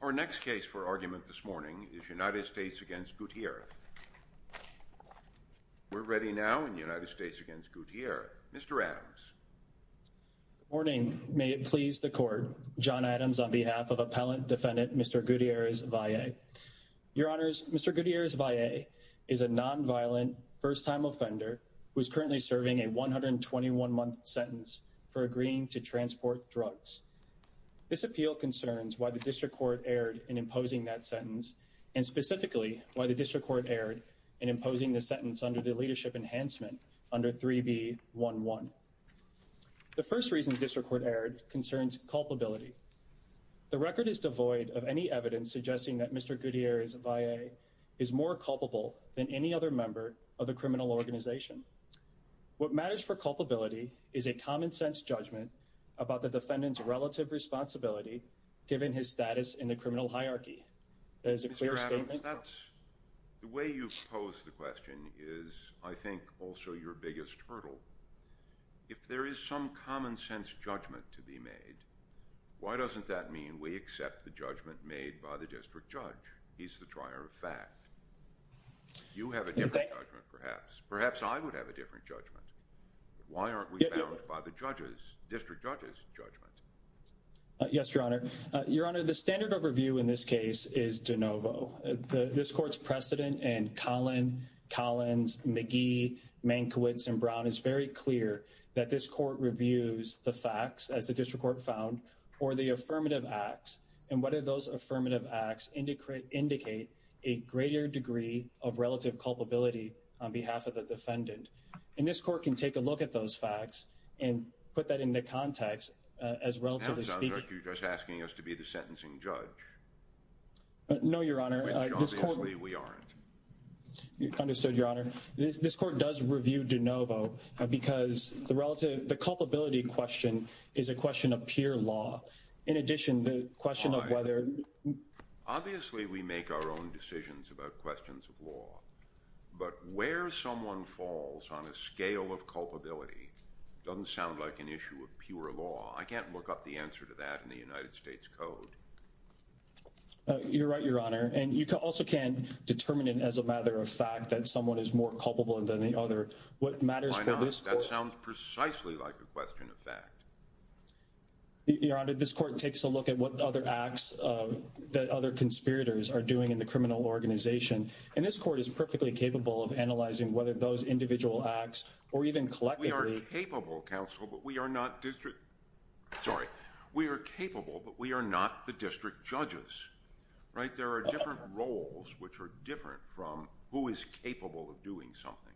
Our next case for argument this morning is United States v. Gutierrez. We're ready now in United States v. Gutierrez. Mr. Adams. Good morning. May it please the Court, John Adams on behalf of Appellant Defendant Mr. Gutierrez-Valle. Your Honors, Mr. Gutierrez-Valle is a non-violent, first-time offender who is currently serving a 121-month sentence for agreeing to transport drugs. This appeal concerns why the District Court erred in imposing that sentence and specifically why the District Court erred in imposing the sentence under the Leadership Enhancement under 3B11. The first reason the District Court erred concerns culpability. The record is devoid of any evidence suggesting that Mr. Gutierrez-Valle is more culpable than any other member of the criminal organization. What matters for culpability is a common-sense judgment about the defendant's relative responsibility given his status in the criminal hierarchy. That is a clear statement. Mr. Adams, the way you pose the question is, I think, also your biggest hurdle. If there is some common-sense judgment to be made, why doesn't that mean we accept the judgment made by the District Judge? He's the trier of fact. You have a different judgment, perhaps. Perhaps I would have a different judgment. Why aren't we bound by the District Judge's judgment? Yes, Your Honor. Your Honor, the standard of review in this case is de novo. This court's precedent in Collin, Collins, McGee, Mankiewicz, and Brown is very clear that this court reviews the facts, as the District Court found, or the affirmative acts. And whether those affirmative acts indicate a greater degree of relative culpability on behalf of the defendant. And this court can take a look at those facts and put that into context as relatively speaking. It sounds like you're just asking us to be the sentencing judge. No, Your Honor. Which, obviously, we aren't. Understood, Your Honor. This court does review de novo because the culpability question is a question of pure law. In addition, the question of whether... Obviously, we make our own decisions about questions of law. But where someone falls on a scale of culpability doesn't sound like an issue of pure law. I can't look up the answer to that in the United States Code. You're right, Your Honor. And you also can't determine it as a matter of fact that someone is more culpable than the other. What matters for this court... I know. That sounds precisely like a question of fact. Your Honor, this court takes a look at what other acts that other conspirators are doing in the criminal organization. And this court is perfectly capable of analyzing whether those individual acts or even collectively... We are capable, counsel, but we are not district... Sorry. We are capable, but we are not the district judges. Right? There are different roles which are different from who is capable of doing something.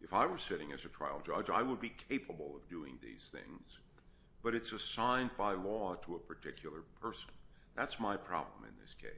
If I were sitting as a trial judge, I would be capable of doing these things. But it's assigned by law to a particular person. That's my problem in this case.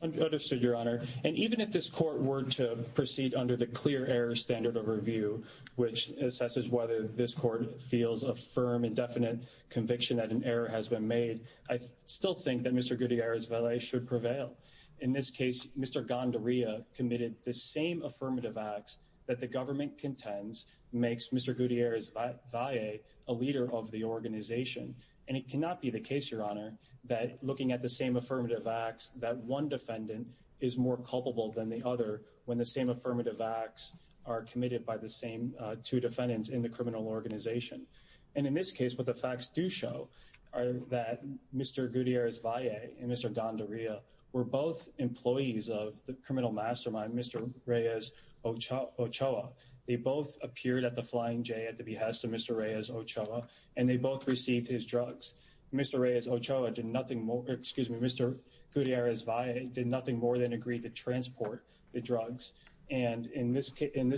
Understood, Your Honor. And even if this court were to proceed under the clear error standard of review, which assesses whether this court feels a firm and definite conviction that an error has been made, I still think that Mr. Gutierrez-Valle should prevail. In this case, Mr. Gondarilla committed the same affirmative acts that the government contends makes Mr. Gutierrez-Valle a leader of the organization. And it cannot be the case, Your Honor, that looking at the same affirmative acts, that one defendant is more culpable than the other when the same affirmative acts are committed by the same two defendants in the criminal organization. And in this case, what the facts do show are that Mr. Gutierrez-Valle and Mr. Gondarilla were both employees of the criminal mastermind, Mr. Reyes-Ochoa. They both appeared at the Flying J at the behest of Mr. Reyes-Ochoa, and they both received his drugs. Mr. Reyes-Ochoa did nothing more, excuse me, Mr. Gutierrez-Valle did nothing more than agree to transport the drugs. And in this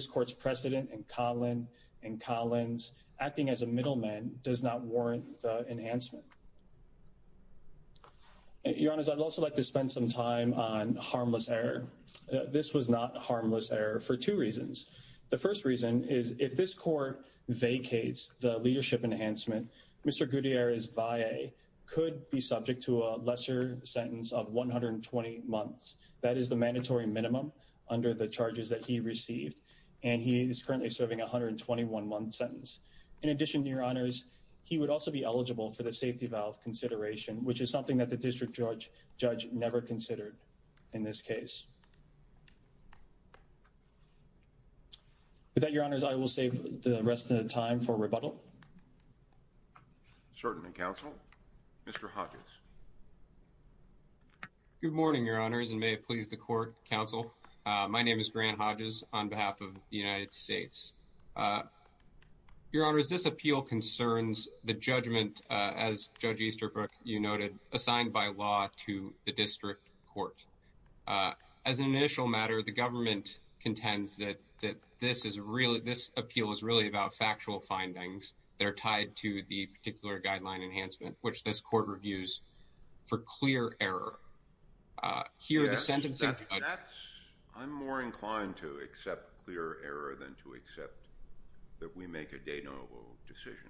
court's precedent, in Collins, acting as a middleman does not warrant enhancement. Your Honor, I'd also like to spend some time on harmless error. This was not harmless error for two reasons. The first reason is if this court vacates the leadership enhancement, Mr. Gutierrez-Valle could be subject to a lesser sentence of 120 months. That is the mandatory minimum under the charges that he received, and he is currently serving a 121-month sentence. In addition, Your Honors, he would also be eligible for the safety valve consideration, which is something that the district judge never considered in this case. With that, Your Honors, I will save the rest of the time for rebuttal. Certainly, Counsel. Mr. Hodges. Good morning, Your Honors, and may it please the court, Counsel. My name is Grant Hodges on behalf of the United States. Your Honors, this appeal concerns the judgment, as Judge Easterbrook, you noted, assigned by law to the district court. As an initial matter, the government contends that this appeal is really about factual findings that are tied to the particular guideline enhancement, which this court reviews for clear error. I'm more inclined to accept clear error than to accept that we make a de novo decision.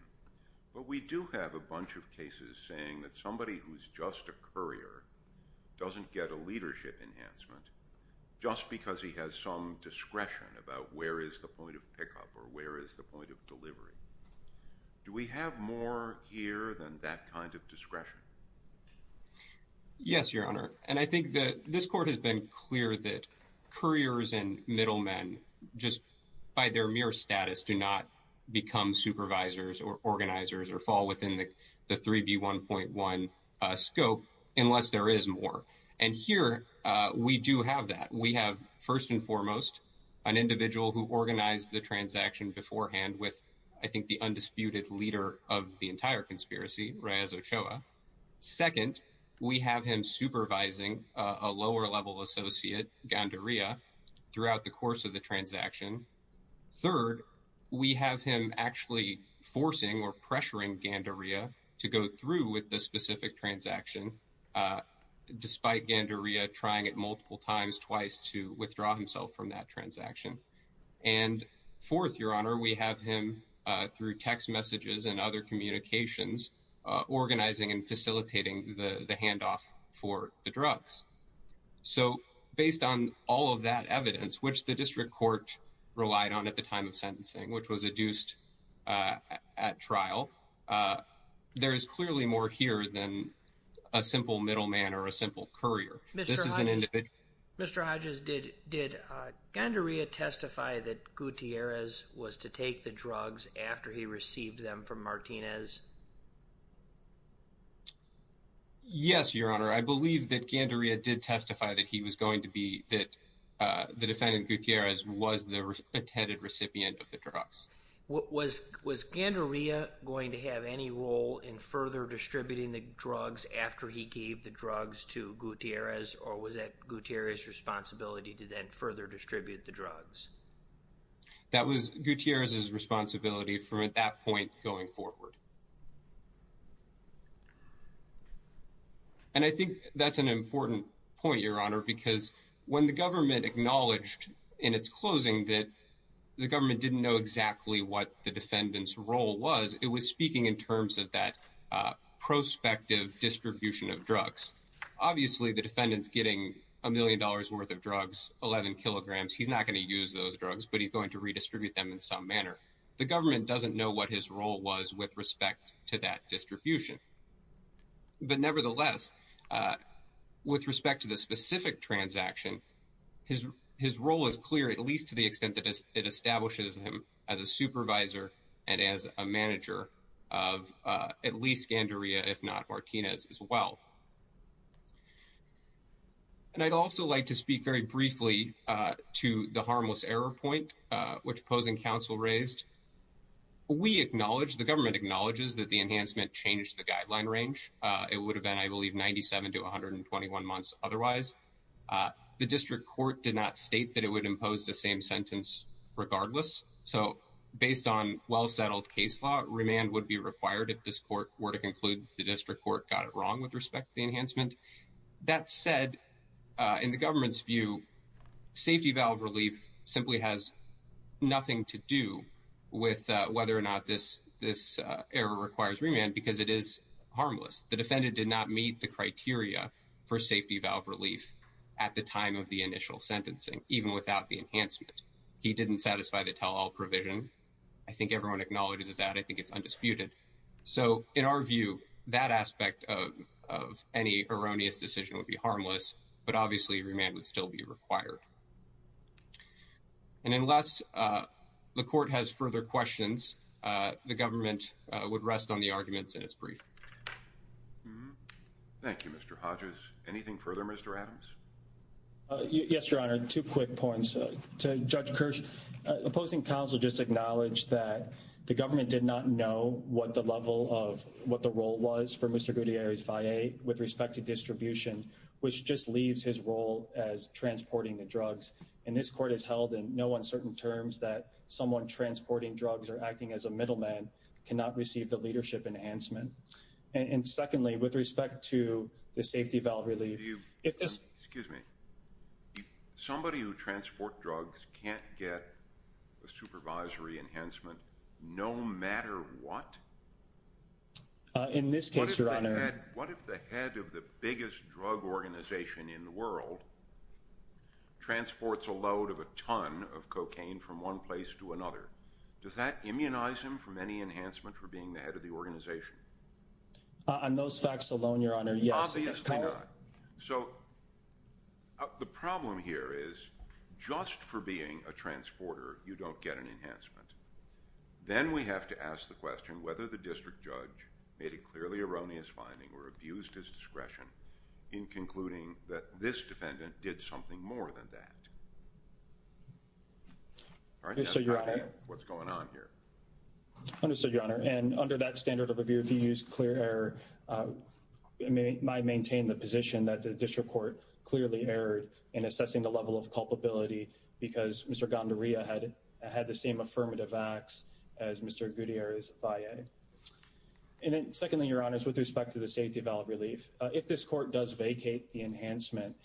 But we do have a bunch of cases saying that somebody who's just a courier doesn't get a leadership enhancement just because he has some discretion about where is the point of pickup or where is the point of delivery. Do we have more here than that kind of discretion? Yes, Your Honor. And I think that this court has been clear that couriers and middlemen just by their mere status do not become supervisors or organizers or fall within the 3B1.1 scope unless there is more. And here we do have that. We have, first and foremost, an individual who organized the transaction beforehand with, I think, the undisputed leader of the entire conspiracy, Reyes Ochoa. Second, we have him supervising a lower-level associate, Gandaria, throughout the course of the transaction. Third, we have him actually forcing or pressuring Gandaria to go through with the specific transaction, despite Gandaria trying it multiple times twice to withdraw himself from that transaction. And fourth, Your Honor, we have him, through text messages and other communications, organizing and facilitating the handoff for the drugs. So, based on all of that evidence, which the district court relied on at the time of sentencing, which was adduced at trial, there is clearly more here than a simple middleman or a simple courier. Mr. Hodges, did Gandaria testify that Gutierrez was to take the drugs after he received them from Martinez? Yes, Your Honor. I believe that Gandaria did testify that the defendant, Gutierrez, was the intended recipient of the drugs. Was Gandaria going to have any role in further distributing the drugs after he gave the drugs to Gutierrez, or was that Gutierrez's responsibility to then further distribute the drugs? That was Gutierrez's responsibility from that point going forward. And I think that's an important point, Your Honor, because when the government acknowledged in its closing that the government didn't know exactly what the defendant's role was, it was speaking in terms of that prospective distribution of drugs. Obviously, the defendant's getting a million dollars worth of drugs, 11 kilograms. He's not going to use those drugs, but he's going to redistribute them in some manner. The government doesn't know what his role was with respect to that distribution. But nevertheless, with respect to the specific transaction, his role is clear, at least to the extent that it establishes him as a supervisor and as a manager of at least Gandaria, if not Martinez, as well. And I'd also like to speak very briefly to the harmless error point, which opposing counsel raised. We acknowledge the government acknowledges that the enhancement changed the guideline range. It would have been, I believe, 97 to 121 months. Otherwise, the district court did not state that it would impose the same sentence regardless. So based on well-settled case law, remand would be required if this court were to conclude the district court got it wrong with respect to enhancement. That said, in the government's view, safety valve relief simply has nothing to do with whether or not this this error requires remand because it is harmless. The defendant did not meet the criteria for safety valve relief at the time of the initial sentencing, even without the enhancement. He didn't satisfy the tell all provision. I think everyone acknowledges that. I think it's undisputed. So in our view, that aspect of of any erroneous decision would be harmless. But obviously, remand would still be required. And unless the court has further questions, the government would rest on the arguments in its brief. Thank you, Mr. Hodges. Anything further, Mr. Adams? Yes, Your Honor. Two quick points to Judge Kirsch. Opposing counsel just acknowledged that the government did not know what the level of what the role was for Mr. Gutierrez via with respect to distribution, which just leaves his role as transporting the drugs. And this court has held in no uncertain terms that someone transporting drugs or acting as a middleman cannot receive the leadership enhancement. And secondly, with respect to the safety valve relief. Excuse me. Somebody who transport drugs can't get a supervisory enhancement no matter what? In this case, Your Honor. What if the head of the biggest drug organization in the world transports a load of a ton of cocaine from one place to another? Does that immunize him from any enhancement for being the head of the organization? On those facts alone, Your Honor, yes. Obviously not. So the problem here is just for being a transporter, you don't get an enhancement. Then we have to ask the question whether the district judge made a clearly erroneous finding or abused his discretion in concluding that this defendant did something more than that. All right. Understood, Your Honor. And under that standard of review, if you use clear error, it might maintain the position that the district court clearly erred in assessing the level of culpability because Mr. Gandaria had the same affirmative acts as Mr. Gutierrez via. And then secondly, Your Honor, with respect to the safety valve relief, if this court does vacate the enhancement,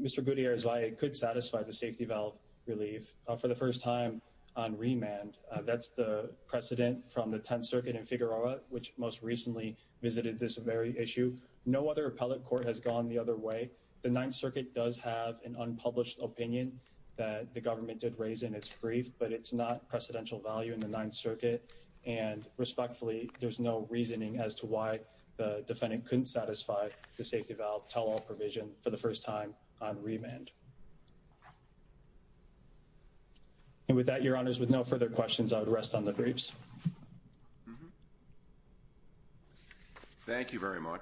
Mr. Gutierrez via could satisfy the safety valve relief for the first time on remand. That's the precedent from the 10th Circuit in Figueroa, which most recently visited this very issue. No other appellate court has gone the other way. The 9th Circuit does have an unpublished opinion that the government did raise in its brief, but it's not precedential value in the 9th Circuit. And respectfully, there's no reasoning as to why the defendant couldn't satisfy the safety valve provision for the first time on remand. And with that, Your Honors, with no further questions, I would rest on the briefs. Thank you very much,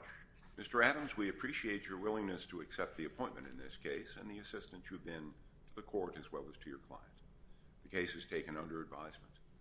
Mr. Adams. We appreciate your willingness to accept the appointment in this case and the assistance you've been to the court as well as to your client. The case is taken under advisement.